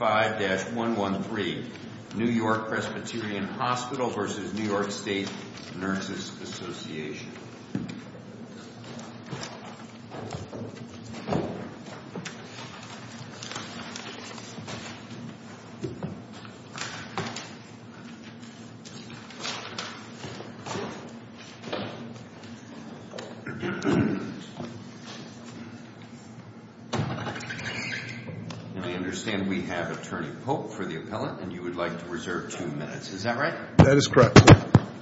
5-113 New York-Presbyterian Hospital v. New York State Nurses Association 5-113 New York-Presbyterian Hospital v. New York State Nurses Association I understand we have Attorney Pope for the appellant and you would like to reserve two minutes, is that right? That is correct.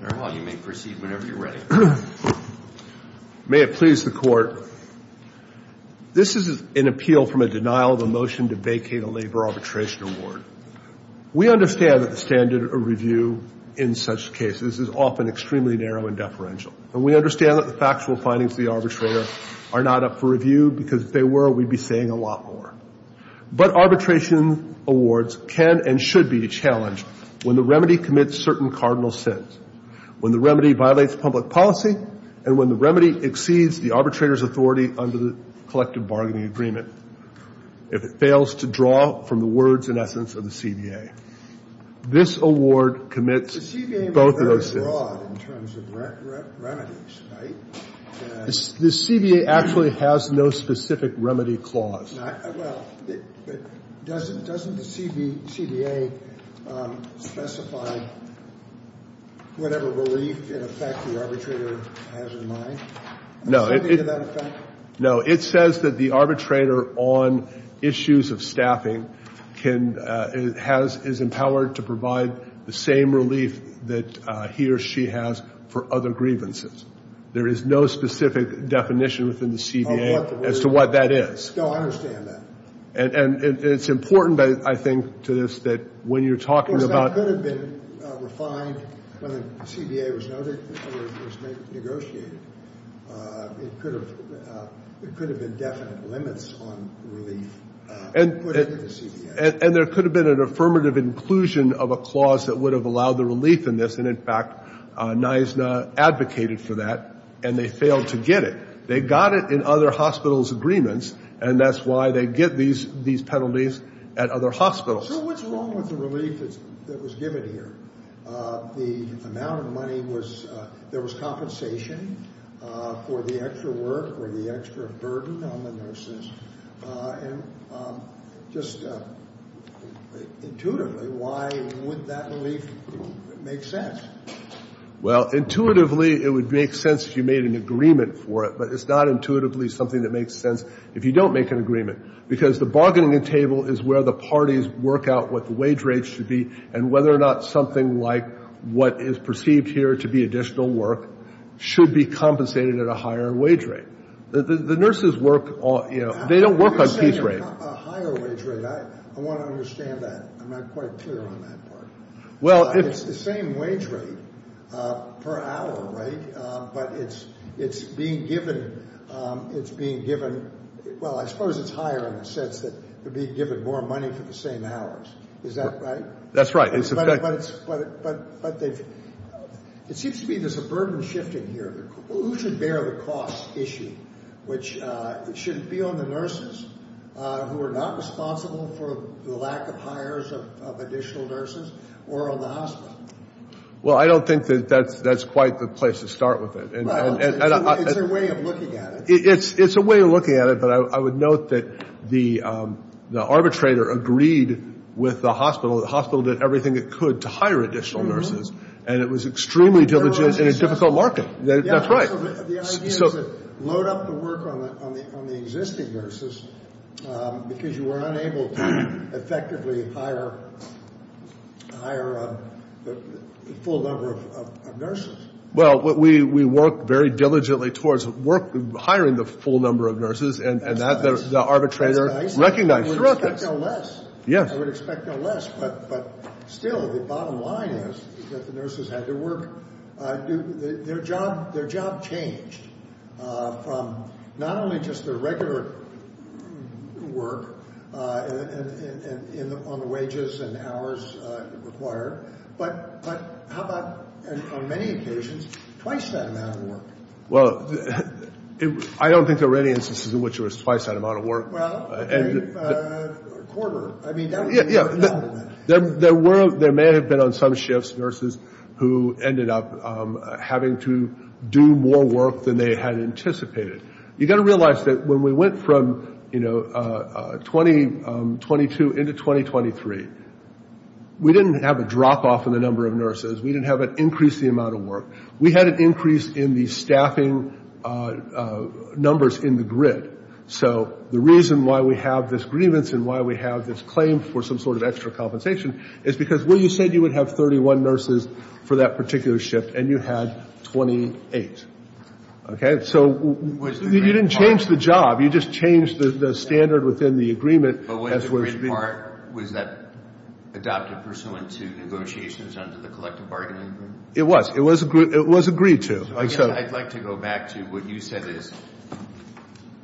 Very well, you may proceed whenever you're ready. May it please the Court, this is an appeal from a denial of a motion to vacate a labor arbitration award. We understand that the standard of review in such cases is often extremely narrow and deferential. And we understand that the factual findings of the arbitrator are not up for review because if they were, we'd be saying a lot more. But arbitration awards can and should be challenged when the remedy commits certain cardinal sins. When the remedy violates public policy and when the remedy exceeds the arbitrator's authority under the collective bargaining agreement. If it fails to draw from the words and essence of the CBA. This award commits both of those sins. The CBA is very broad in terms of remedies, right? The CBA actually has no specific remedy clause. Well, doesn't the CBA specify whatever relief in effect the arbitrator has in mind? No, it says that the arbitrator on issues of staffing is empowered to provide the same relief that he or she has for other grievances. There is no specific definition within the CBA as to what that is. No, I understand that. And it's important, I think, to this that when you're talking about. Of course, that could have been refined when the CBA was negotiated. It could have been definite limits on relief put into the CBA. And there could have been an affirmative inclusion of a clause that would have allowed the relief in this. And, in fact, NISNA advocated for that, and they failed to get it. They got it in other hospitals' agreements, and that's why they get these penalties at other hospitals. So what's wrong with the relief that was given here? The amount of money was there was compensation for the extra work or the extra burden on the nurses. And just intuitively, why would that relief make sense? Well, intuitively, it would make sense if you made an agreement for it. But it's not intuitively something that makes sense if you don't make an agreement, because the bargaining table is where the parties work out what the wage rates should be and whether or not something like what is perceived here to be additional work should be compensated at a higher wage rate. The nurses work on ‑‑ they don't work on piece rates. You're saying a higher wage rate. I want to understand that. I'm not quite clear on that part. Well, it's the same wage rate per hour, right? But it's being given ‑‑ well, I suppose it's higher in the sense that you're being given more money for the same hours. Is that right? That's right. But it seems to me there's a burden shifting here. Who should bear the cost issue? It shouldn't be on the nurses who are not responsible for the lack of hires of additional nurses or on the hospital. Well, I don't think that that's quite the place to start with it. It's their way of looking at it. It's a way of looking at it, but I would note that the arbitrator agreed with the hospital. The hospital did everything it could to hire additional nurses, and it was extremely diligent in a difficult market. That's right. The idea is to load up the work on the existing nurses because you were unable to effectively hire the full number of nurses. Well, we worked very diligently towards hiring the full number of nurses, and that the arbitrator recognized throughout this. I would expect no less. Yes. I would expect no less. But still, the bottom line is that the nurses had to work. Their job changed from not only just the regular work on the wages and hours required, but how about on many occasions twice that amount of work? Well, I don't think there were any instances in which there was twice that amount of work. Well, a quarter. Yeah. There may have been on some shifts nurses who ended up having to do more work than they had anticipated. You've got to realize that when we went from, you know, 2022 into 2023, we didn't have a drop off in the number of nurses. We didn't have an increase in the amount of work. We had an increase in the staffing numbers in the grid. So the reason why we have this grievance and why we have this claim for some sort of extra compensation is because, well, you said you would have 31 nurses for that particular shift, and you had 28. Okay? So you didn't change the job. You just changed the standard within the agreement. But was the grid part, was that adopted pursuant to negotiations under the collective bargaining agreement? It was. It was agreed to. I'd like to go back to what you said is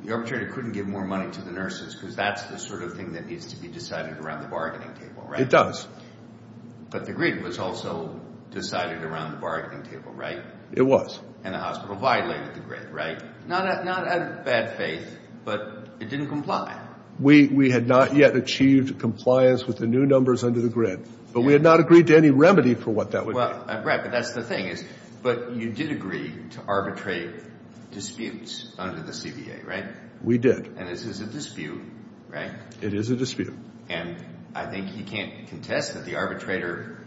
the arbitrator couldn't give more money to the nurses because that's the sort of thing that needs to be decided around the bargaining table, right? It does. But the grid was also decided around the bargaining table, right? It was. And the hospital violated the grid, right? Not out of bad faith, but it didn't comply. We had not yet achieved compliance with the new numbers under the grid, but we had not agreed to any remedy for what that would be. Well, Brad, but that's the thing is, but you did agree to arbitrate disputes under the CBA, right? We did. And this is a dispute, right? It is a dispute. And I think you can't contest that the arbitrator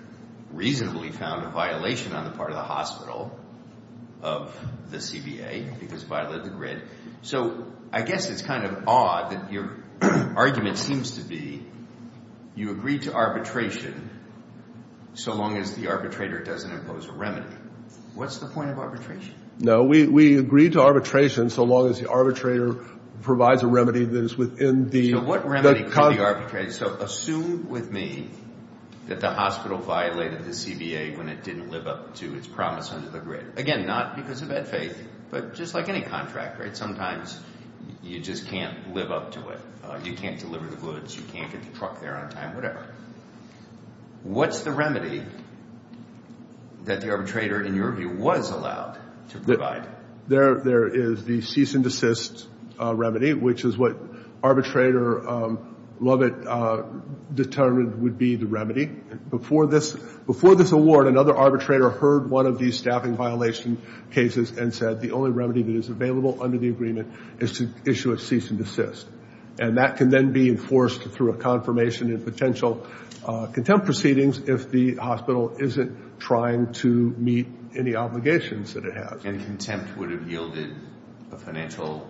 reasonably found a violation on the part of the hospital of the CBA because it violated the grid. So I guess it's kind of odd that your argument seems to be you agreed to arbitration so long as the arbitrator doesn't impose a remedy. What's the point of arbitration? No, we agreed to arbitration so long as the arbitrator provides a remedy that is within the – So what remedy could be arbitrated? So assume with me that the hospital violated the CBA when it didn't live up to its promise under the grid. Again, not because of bad faith, but just like any contract, right? Sometimes you just can't live up to it. You can't deliver the goods. You can't get the truck there on time, whatever. What's the remedy that the arbitrator, in your view, was allowed to provide? There is the cease and desist remedy, which is what arbitrator Lovett determined would be the remedy. Before this award, another arbitrator heard one of these staffing violation cases and said the only remedy that is available under the agreement is to issue a cease and desist. And that can then be enforced through a confirmation in potential contempt proceedings if the hospital isn't trying to meet any obligations that it has. And contempt would have yielded a financial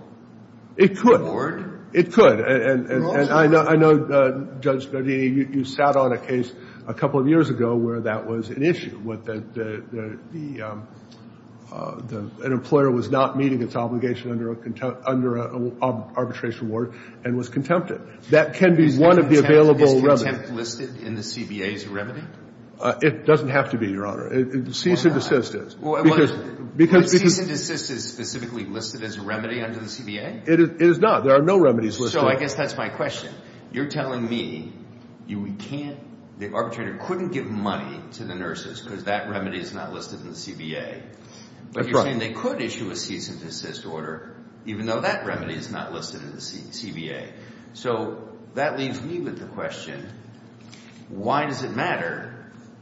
reward? It could. It could. And I know, Judge Nodini, you sat on a case a couple of years ago where that was an issue, where an employer was not meeting its obligation under an arbitration award and was contempted. That can be one of the available remedies. Is contempt listed in the CBA as a remedy? It doesn't have to be, Your Honor. Cease and desist is. Well, is cease and desist specifically listed as a remedy under the CBA? It is not. There are no remedies listed. So I guess that's my question. You're telling me you can't, the arbitrator couldn't give money to the nurses because that remedy is not listed in the CBA. But you're saying they could issue a cease and desist order, even though that remedy is not listed in the CBA. So that leaves me with the question, why does it matter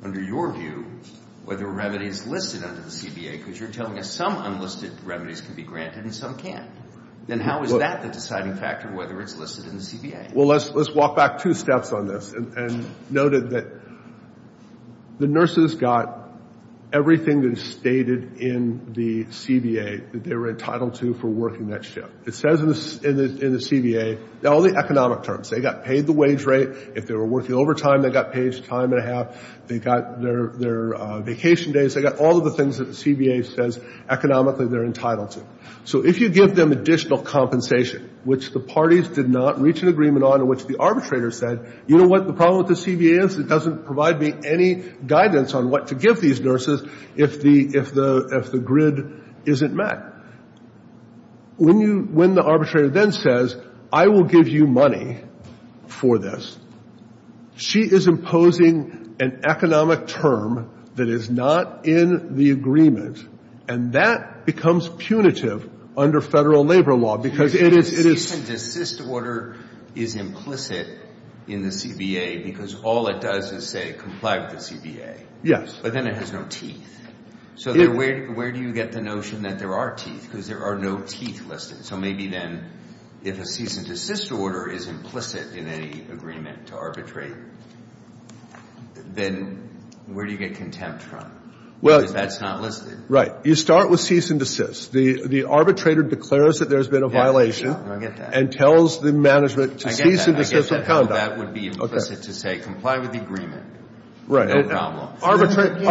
under your view whether a remedy is listed under the CBA? Because you're telling us some unlisted remedies can be granted and some can't. Then how is that the deciding factor, whether it's listed in the CBA? Well, let's walk back two steps on this and note that the nurses got everything that is stated in the CBA that they were entitled to for working that shift. It says in the CBA, all the economic terms. They got paid the wage rate. If they were working overtime, they got paid time and a half. They got their vacation days. They got all of the things that the CBA says economically they're entitled to. So if you give them additional compensation, which the parties did not reach an agreement on and which the arbitrator said, you know what the problem with the CBA is? It doesn't provide me any guidance on what to give these nurses if the grid isn't met. When the arbitrator then says, I will give you money for this, she is imposing an economic term that is not in the agreement, and that becomes punitive under federal labor law because it is ‑‑ So the cease and desist order is implicit in the CBA because all it does is say comply with the CBA. Yes. But then it has no teeth. So where do you get the notion that there are teeth? Because there are no teeth listed. So maybe then if a cease and desist order is implicit in any agreement to arbitrate, then where do you get contempt from? Because that's not listed. Right. You start with cease and desist. The arbitrator declares that there's been a violation. Yes, I get that. And tells the management to cease and desist from conduct. I get that. That would be implicit to say comply with the agreement. Right. No problem. I can't do that. If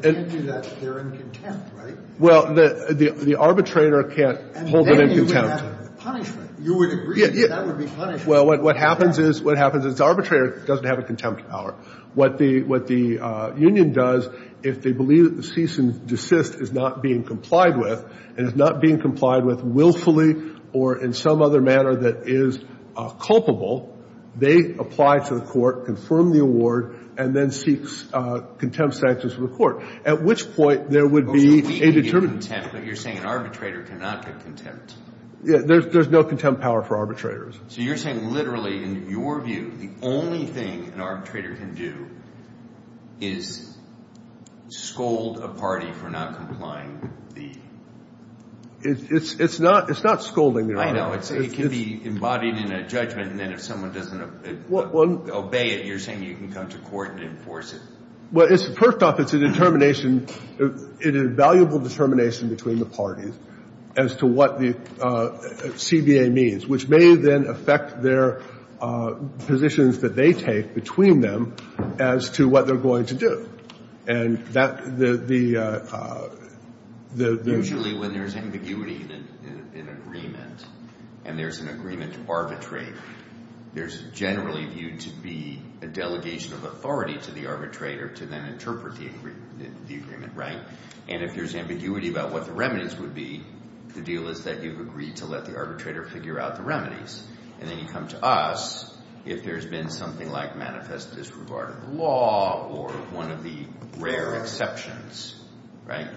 I can't do that, they're in contempt, right? Well, the arbitrator can't hold them in contempt. And then you would have punishment. You would agree that that would be punishment. Well, what happens is the arbitrator doesn't have a contempt power. What the union does, if they believe that the cease and desist is not being complied with and is not being complied with willfully or in some other manner that is culpable, they apply to the court, confirm the award, and then seek contempt sanctions from the court, at which point there would be a determination. So we can get contempt, but you're saying an arbitrator cannot get contempt. There's no contempt power for arbitrators. So you're saying literally, in your view, the only thing an arbitrator can do is scold a party for not complying with the. It's not scolding. I know. It can be embodied in a judgment, and then if someone doesn't obey it, you're saying you can come to court and enforce it. Well, first off, it's a determination, an invaluable determination between the parties as to what the CBA means, which may then affect their positions that they take between them as to what they're going to do. And that the. Usually when there's ambiguity in an agreement and there's an agreement to arbitrate, there's generally viewed to be a delegation of authority to the arbitrator to then interpret the agreement, right? And if there's ambiguity about what the remedies would be, the deal is that you've agreed to let the arbitrator figure out the remedies. And then you come to us if there's been something like manifest disregard of the law or one of the rare exceptions, right?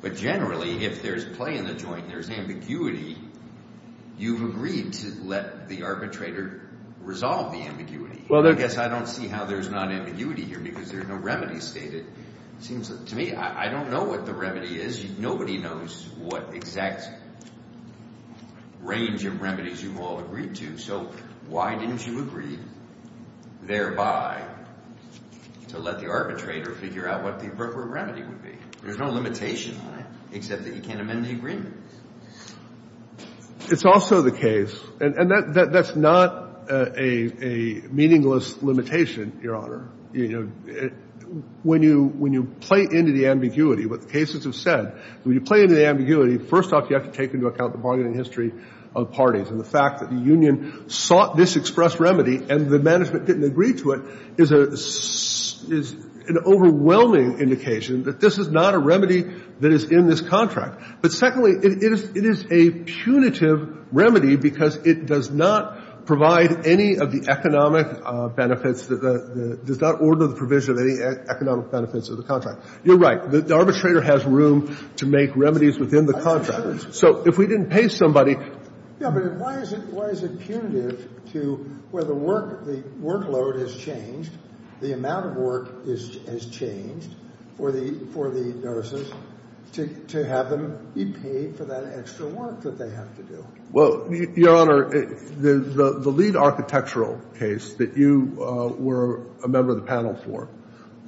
But generally, if there's play in the joint and there's ambiguity, you've agreed to let the arbitrator resolve the ambiguity. Well, I guess I don't see how there's not ambiguity here because there's no remedy stated. It seems to me I don't know what the remedy is. Nobody knows what exact range of remedies you've all agreed to. So why didn't you agree thereby to let the arbitrator figure out what the appropriate remedy would be? There's no limitation on it except that you can't amend the agreement. It's also the case, and that's not a meaningless limitation, Your Honor. When you play into the ambiguity, what the cases have said, when you play into the ambiguity, first off, you have to take into account the bargaining history of parties and the fact that the union sought this express remedy and the management didn't agree to it is an overwhelming indication that this is not a remedy that is in this contract. But secondly, it is a punitive remedy because it does not provide any of the economic benefits that the – does not order the provision of any economic benefits of the contract. You're right. The arbitrator has room to make remedies within the contract. So if we didn't pay somebody – Yeah, but why is it punitive to where the workload has changed, the amount of work has changed for the nurses to have them be paid for that extra work that they have to do? Well, Your Honor, the lead architectural case that you were a member of the panel for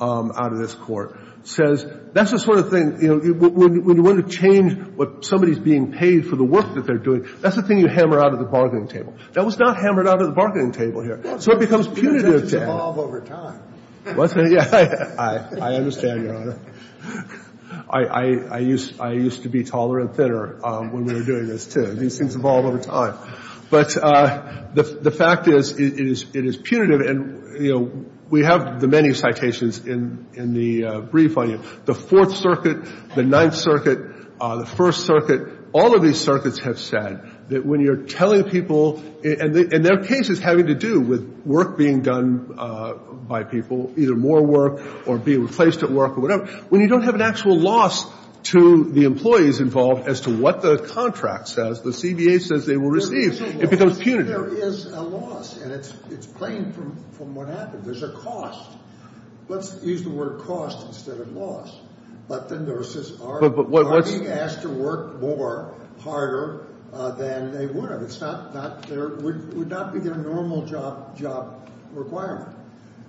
out of this Court says that's the sort of thing, you know, when you want to change what somebody's being paid for the work that they're doing, that's the thing you hammer out of the bargaining table. That was not hammered out of the bargaining table here. So it becomes punitive to have – Well, it seems to evolve over time. I understand, Your Honor. I used to be taller and thinner when we were doing this, too. It seems to evolve over time. But the fact is it is punitive. And, you know, we have the many citations in the brief on you. The Fourth Circuit, the Ninth Circuit, the First Circuit, all of these circuits have said that when you're telling people – and their case is having to do with work being done by people, either more work or being replaced at work or whatever. When you don't have an actual loss to the employees involved as to what the contract says, the CBA says they will receive. It becomes punitive. There is a loss. And it's plain from what happened. There's a cost. Let's use the word cost instead of loss. But then there's this – But what's – Are being asked to work more, harder than they would have. It's not – would not be their normal job requirement.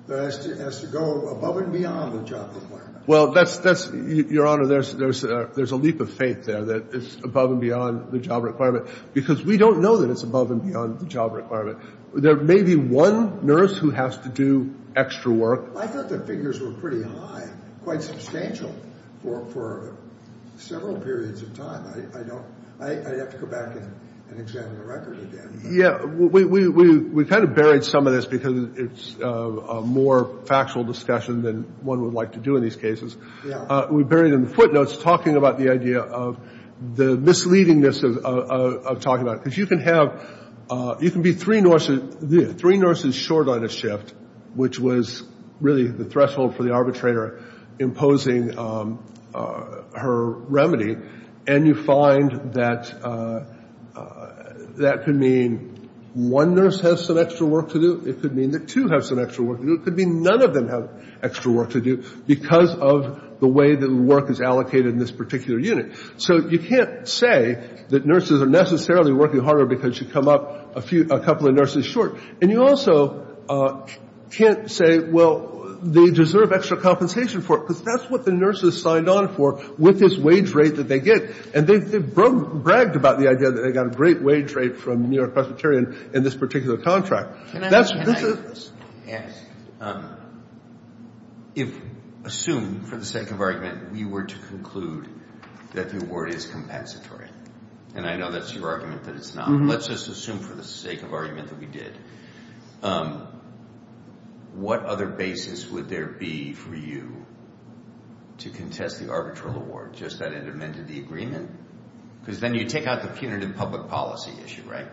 It has to go above and beyond the job requirement. Well, that's – Your Honor, there's a leap of faith there that it's above and beyond the job requirement because we don't know that it's above and beyond the job requirement. There may be one nurse who has to do extra work. I thought the figures were pretty high, quite substantial for several periods of time. I don't – I'd have to go back and examine the record again. Yeah. We kind of buried some of this because it's a more factual discussion than one would like to do in these cases. Yeah. We buried it in the footnotes, talking about the idea of the misleadingness of talking about it. Because you can have – you can be three nurses short on a shift, which was really the threshold for the arbitrator imposing her remedy, and you find that that could mean one nurse has some extra work to do. It could mean that two have some extra work to do. It could mean none of them have extra work to do because of the way that work is allocated in this particular unit. So you can't say that nurses are necessarily working harder because you come up a couple of nurses short. And you also can't say, well, they deserve extra compensation for it, because that's what the nurses signed on for with this wage rate that they get. And they bragged about the idea that they got a great wage rate from New York Presbyterian in this particular contract. Can I ask – assume, for the sake of argument, we were to conclude that the award is compensatory. And I know that's your argument that it's not. Let's just assume for the sake of argument that we did. What other basis would there be for you to contest the arbitral award, just that it amended the agreement? Because then you take out the punitive public policy issue, right?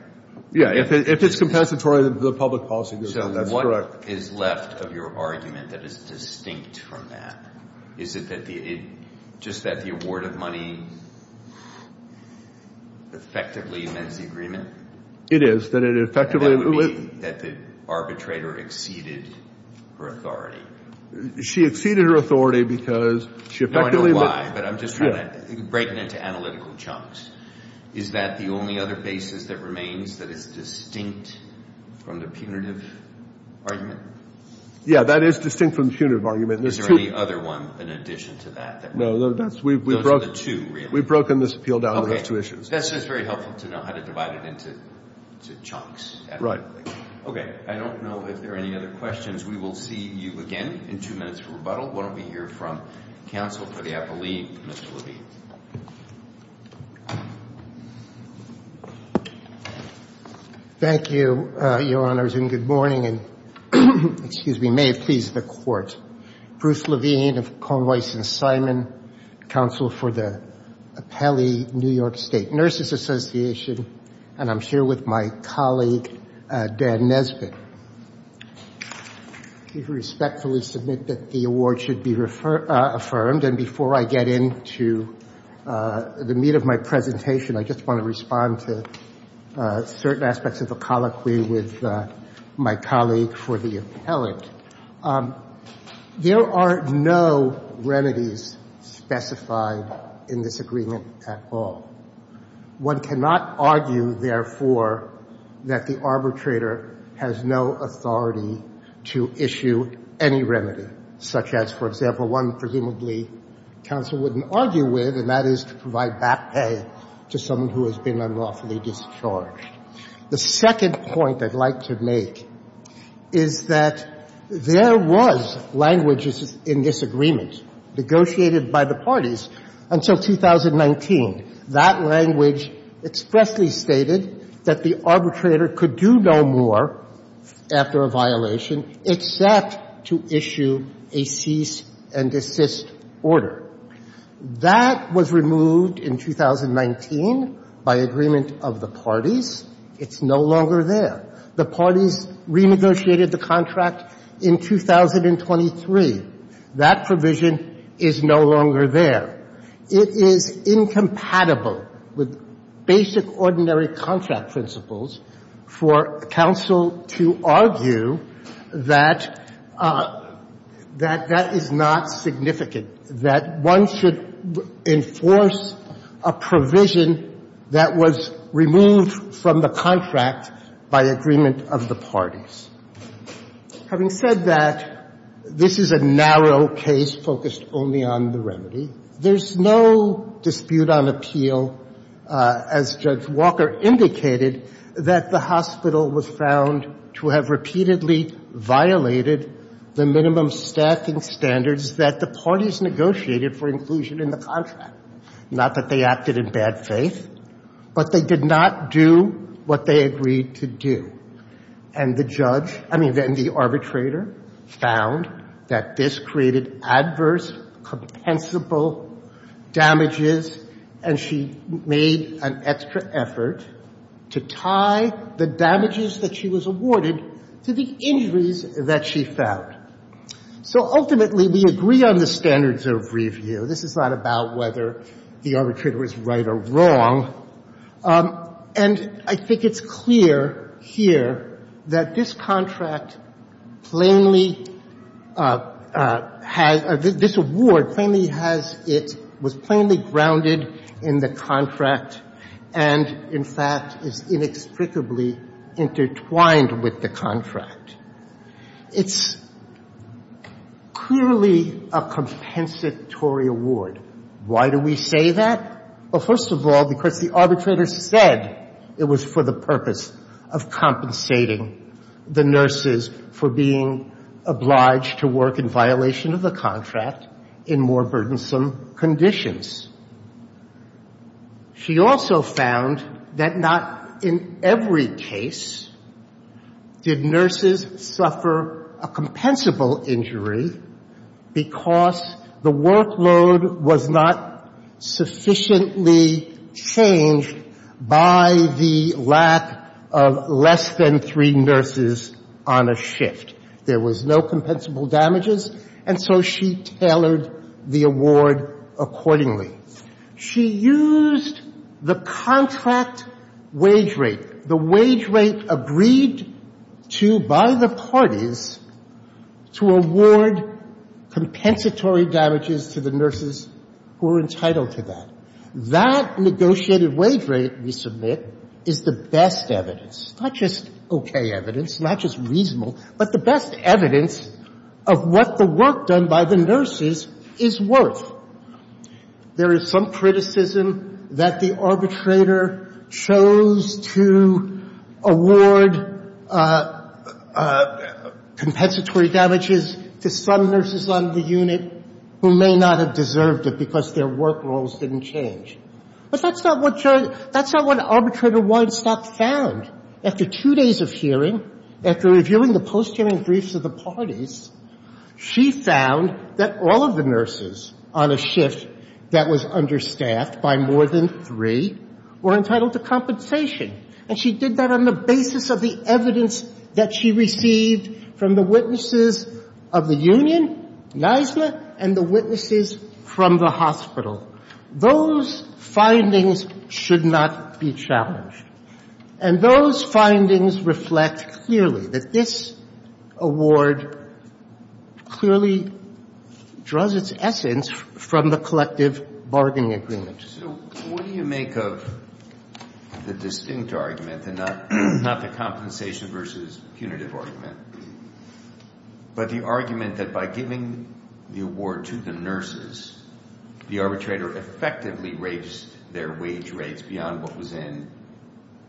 Yeah. If it's compensatory, the public policy decision, that's correct. So what is left of your argument that is distinct from that? Is it just that the award of money effectively amends the agreement? It is, that it effectively – And that would be that the arbitrator exceeded her authority. She exceeded her authority because she effectively – No, I know why, but I'm just trying to – breaking into analytical chunks. Is that the only other basis that remains that is distinct from the punitive argument? Yeah, that is distinct from the punitive argument. Is there any other one in addition to that? No. Those are the two, really. We've broken this appeal down into those two issues. Okay. That's just very helpful to know how to divide it into chunks. Right. Okay. I don't know if there are any other questions. We will see you again in two minutes for rebuttal. Why don't we hear from counsel for the appellee, Mr. Levine. Thank you, Your Honors, and good morning. And may it please the Court, Bruce Levine of Cone, Weiss & Simon, counsel for the Appellee New York State Nurses Association, and I'm here with my colleague, Dan Nesbitt. I respectfully submit that the award should be affirmed, and before I get into the meat of my presentation, I just want to respond to certain aspects of the colloquy with my colleague for the appellant. There are no remedies specified in this agreement at all. One cannot argue, therefore, that the arbitrator has no authority to issue any remedy, such as, for example, one presumably counsel wouldn't argue with, and that is to provide back pay to someone who has been unlawfully discharged. The second point I'd like to make is that there was language in this agreement negotiated by the parties until 2019. That language expressly stated that the arbitrator could do no more after a violation except to issue a cease and desist order. That was removed in 2019 by agreement of the parties. It's no longer there. The parties renegotiated the contract in 2023. That provision is no longer there. It is incompatible with basic ordinary contract principles for counsel to argue that that is not significant, that one should enforce a provision that was removed from the contract by agreement of the parties. Having said that, this is a narrow case focused only on the remedy. There's no dispute on appeal, as Judge Walker indicated, that the hospital was found to have repeatedly violated the minimum staffing standards that the parties negotiated for inclusion in the contract. Not that they acted in bad faith, but they did not do what they agreed to do. And the judge, I mean, the arbitrator found that this created adverse, compensable damages, and she made an extra effort to tie the damages that she was awarded to the injuries that she found. So ultimately, we agree on the standards of review. This is not about whether the arbitrator was right or wrong. And I think it's clear here that this contract plainly has this award, plainly has it, was plainly grounded in the contract and, in fact, is inexplicably intertwined with the contract. It's clearly a compensatory award. Why do we say that? Well, first of all, because the arbitrator said it was for the purpose of compensating the nurses for being obliged to work in violation of the contract in more burdensome conditions. She also found that not in every case did nurses suffer a compensable injury because the workload was not sufficiently changed by the lack of less than three nurses on a shift. There was no compensable damages, and so she tailored the award accordingly. She used the contract wage rate, the wage rate agreed to by the parties to award compensatory damages to the nurses who were entitled to that. That negotiated wage rate we submit is the best evidence, not just okay evidence, not just reasonable, but the best evidence of what the work done by the nurses is worth. There is some criticism that the arbitrator chose to award compensatory damages to some nurses on the unit who may not have deserved it because their work roles didn't change. But that's not what arbitrator Weinstock found. After two days of hearing, after reviewing the post-hearing briefs of the parties, she found that all of the nurses on a shift that was understaffed by more than three were entitled to compensation. And she did that on the basis of the evidence that she received from the witnesses of the union, NISLA, and the witnesses from the hospital. Those findings should not be challenged. And those findings reflect clearly that this award clearly draws its essence from the collective bargaining agreement. So what do you make of the distinct argument, not the compensation versus punitive argument, but the argument that by giving the award to the nurses, the arbitrator effectively raised their wage rates beyond what was in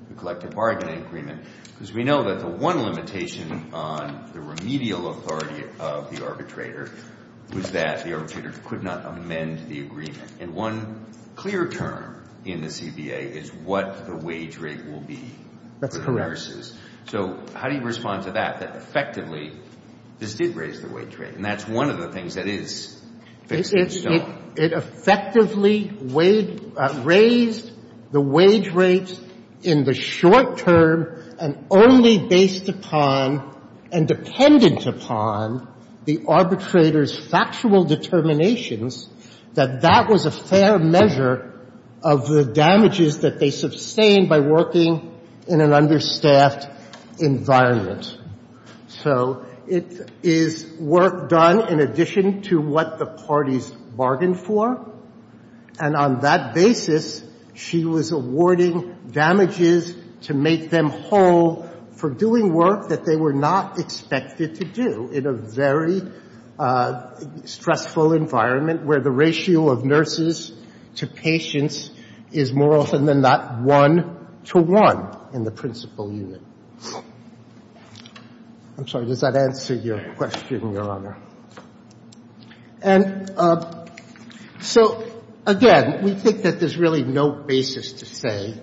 the collective bargaining agreement? Because we know that the one limitation on the remedial authority of the arbitrator was that the arbitrator could not amend the agreement. And one clear term in the CBA is what the wage rate will be for the nurses. So how do you respond to that, that effectively this did raise the wage rate? And that's one of the things that is fixed in stone. It effectively raised the wage rate in the short term and only based upon and dependent upon the arbitrator's factual determinations, that that was a fair measure of the damages that they sustained by working in an understaffed environment. So it is work done in addition to what the parties bargained for. And on that basis, she was awarding damages to make them whole for doing work that they were not expected to do in a very stressful environment where the ratio of nurses to patients is more often than not one-to-one in the principal unit. I'm sorry. Does that answer your question, Your Honor? And so, again, we think that there's really no basis to say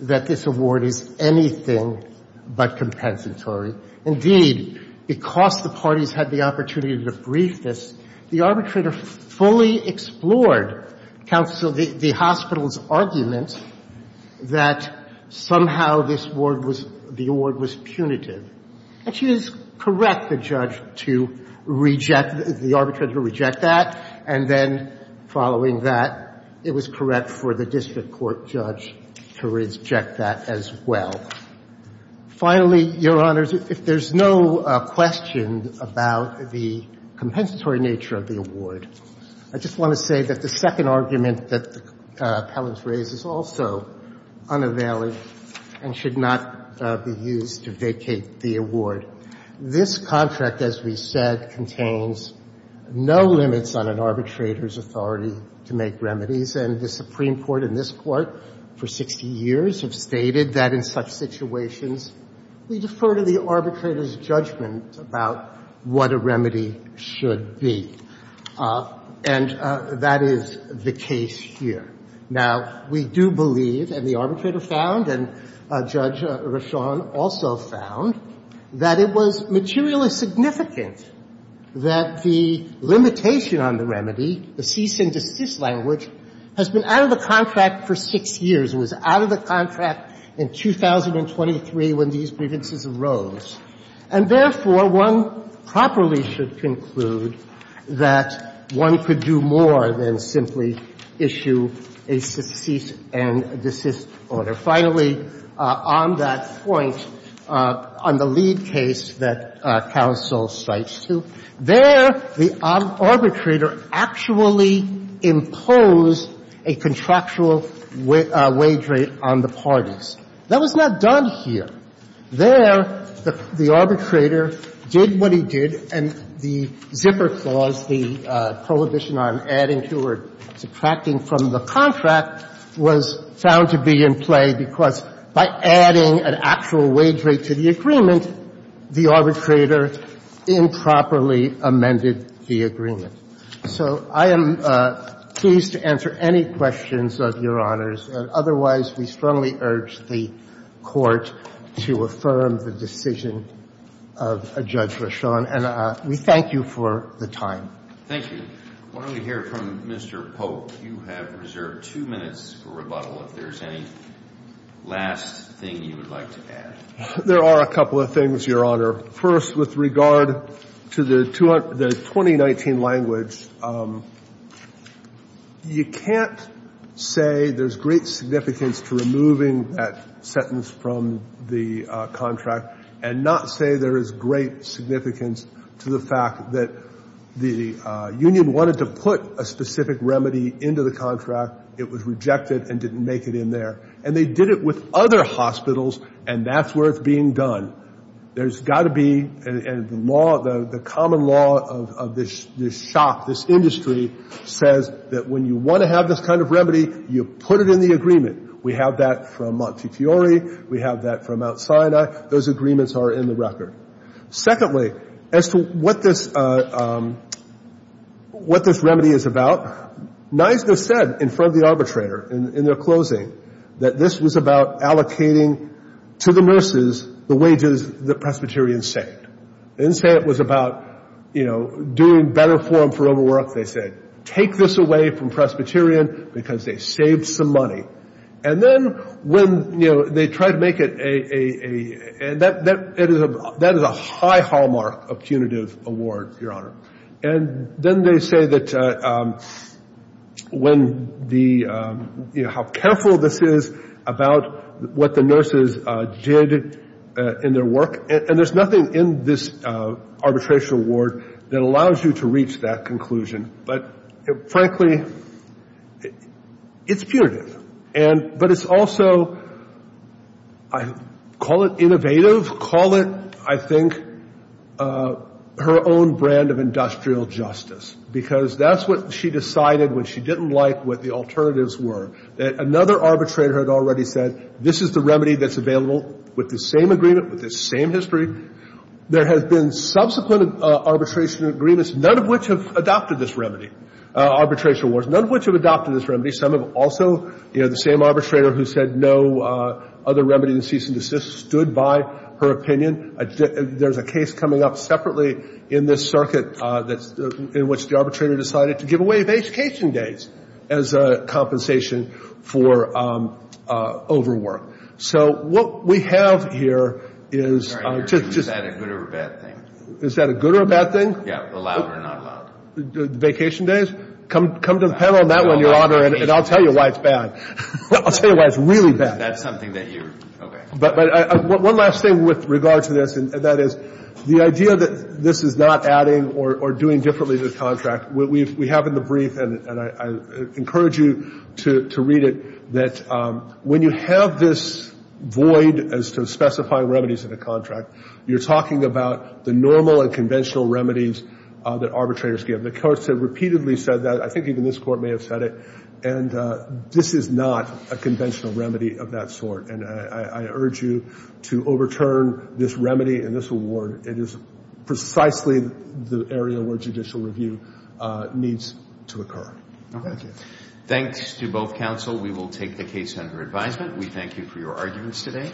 that this award is anything but compensatory. Indeed, because the parties had the opportunity to debrief this, the arbitrator fully explored the hospital's argument that somehow this award was punitive. And she was correct, the judge, to reject, the arbitrator to reject that. And then following that, it was correct for the district court judge to reject that as well. Finally, Your Honors, if there's no question about the compensatory nature of the award, I just want to say that the second argument that the appellant raised is also unavailable and should not be used to vacate the award. This contract, as we said, contains no limits on an arbitrator's authority to make remedies. And the Supreme Court and this Court for 60 years have stated that in such situations we defer to the arbitrator's judgment about what a remedy should be. And that is the case here. Now, we do believe, and the arbitrator found and Judge Rashawn also found, that it was materially significant that the limitation on the remedy, the cease and desist language, has been out of the contract for 6 years. It was out of the contract in 2023 when these preventions arose. And therefore, one properly should conclude that one could do more than simply issue a cease and desist order. Finally, on that point, on the lead case that counsel cites to, there the arbitrator actually imposed a contractual wage rate on the parties. That was not done here. There, the arbitrator did what he did, and the zipper clause, the prohibition on adding to or subtracting from the contract, was found to be in play because by adding an actual wage rate to the agreement, the arbitrator improperly amended the agreement. So I am pleased to answer any questions of Your Honors. Otherwise, we strongly urge the Court to affirm the decision of Judge Rashawn. And we thank you for the time. Thank you. I want to hear from Mr. Polk. You have reserved two minutes for rebuttal. If there's any last thing you would like to add. There are a couple of things, Your Honor. First, with regard to the 2019 language, you can't say there's great significance to removing that sentence from the contract and not say there is great significance to the fact that the union wanted to put a specific remedy into the contract. It was rejected and didn't make it in there. And they did it with other hospitals, and that's where it's being done. There's got to be, and the law, the common law of this shop, this industry, says that when you want to have this kind of remedy, you put it in the agreement. We have that from Montefiore. We have that from Mount Sinai. Those agreements are in the record. Secondly, as to what this remedy is about, NISDA said in front of the arbitrator in their closing that this was about allocating to the nurses the wages that Presbyterian saved. They didn't say it was about, you know, doing better for them for overwork. They said, take this away from Presbyterian because they saved some money. And then when, you know, they tried to make it a – that is a high hallmark of punitive award, Your Honor. And then they say that when the – you know, how careful this is about what the nurses did in their work. And there's nothing in this arbitration award that allows you to reach that conclusion. But, frankly, it's punitive. And – but it's also – call it innovative, call it, I think, her own brand of industrial justice. Because that's what she decided when she didn't like what the alternatives were, that another arbitrator had already said this is the remedy that's available with the same agreement, with the same history. There have been subsequent arbitration agreements, none of which have adopted this remedy, arbitration awards, none of which have adopted this remedy. Some have also – you know, the same arbitrator who said no other remedy than cease and desist stood by her opinion. There's a case coming up separately in this circuit that's – in which the arbitrator decided to give away vacation days as a compensation for overwork. So what we have here is just – Is that a good or a bad thing? Is that a good or a bad thing? Yeah, allowed or not allowed. Vacation days? Come to the panel on that one, Your Honor, and I'll tell you why it's bad. I'll tell you why it's really bad. That's something that you're – okay. But one last thing with regard to this, and that is the idea that this is not adding or doing differently to the contract. We have in the brief, and I encourage you to read it, that when you have this void as to specifying remedies in a contract, you're talking about the normal and conventional remedies that arbitrators give. The courts have repeatedly said that. I think even this Court may have said it. And this is not a conventional remedy of that sort. And I urge you to overturn this remedy and this award. It is precisely the area where judicial review needs to occur. Thank you. Thanks to both counsel. We will take the case under advisement. We thank you for your arguments today.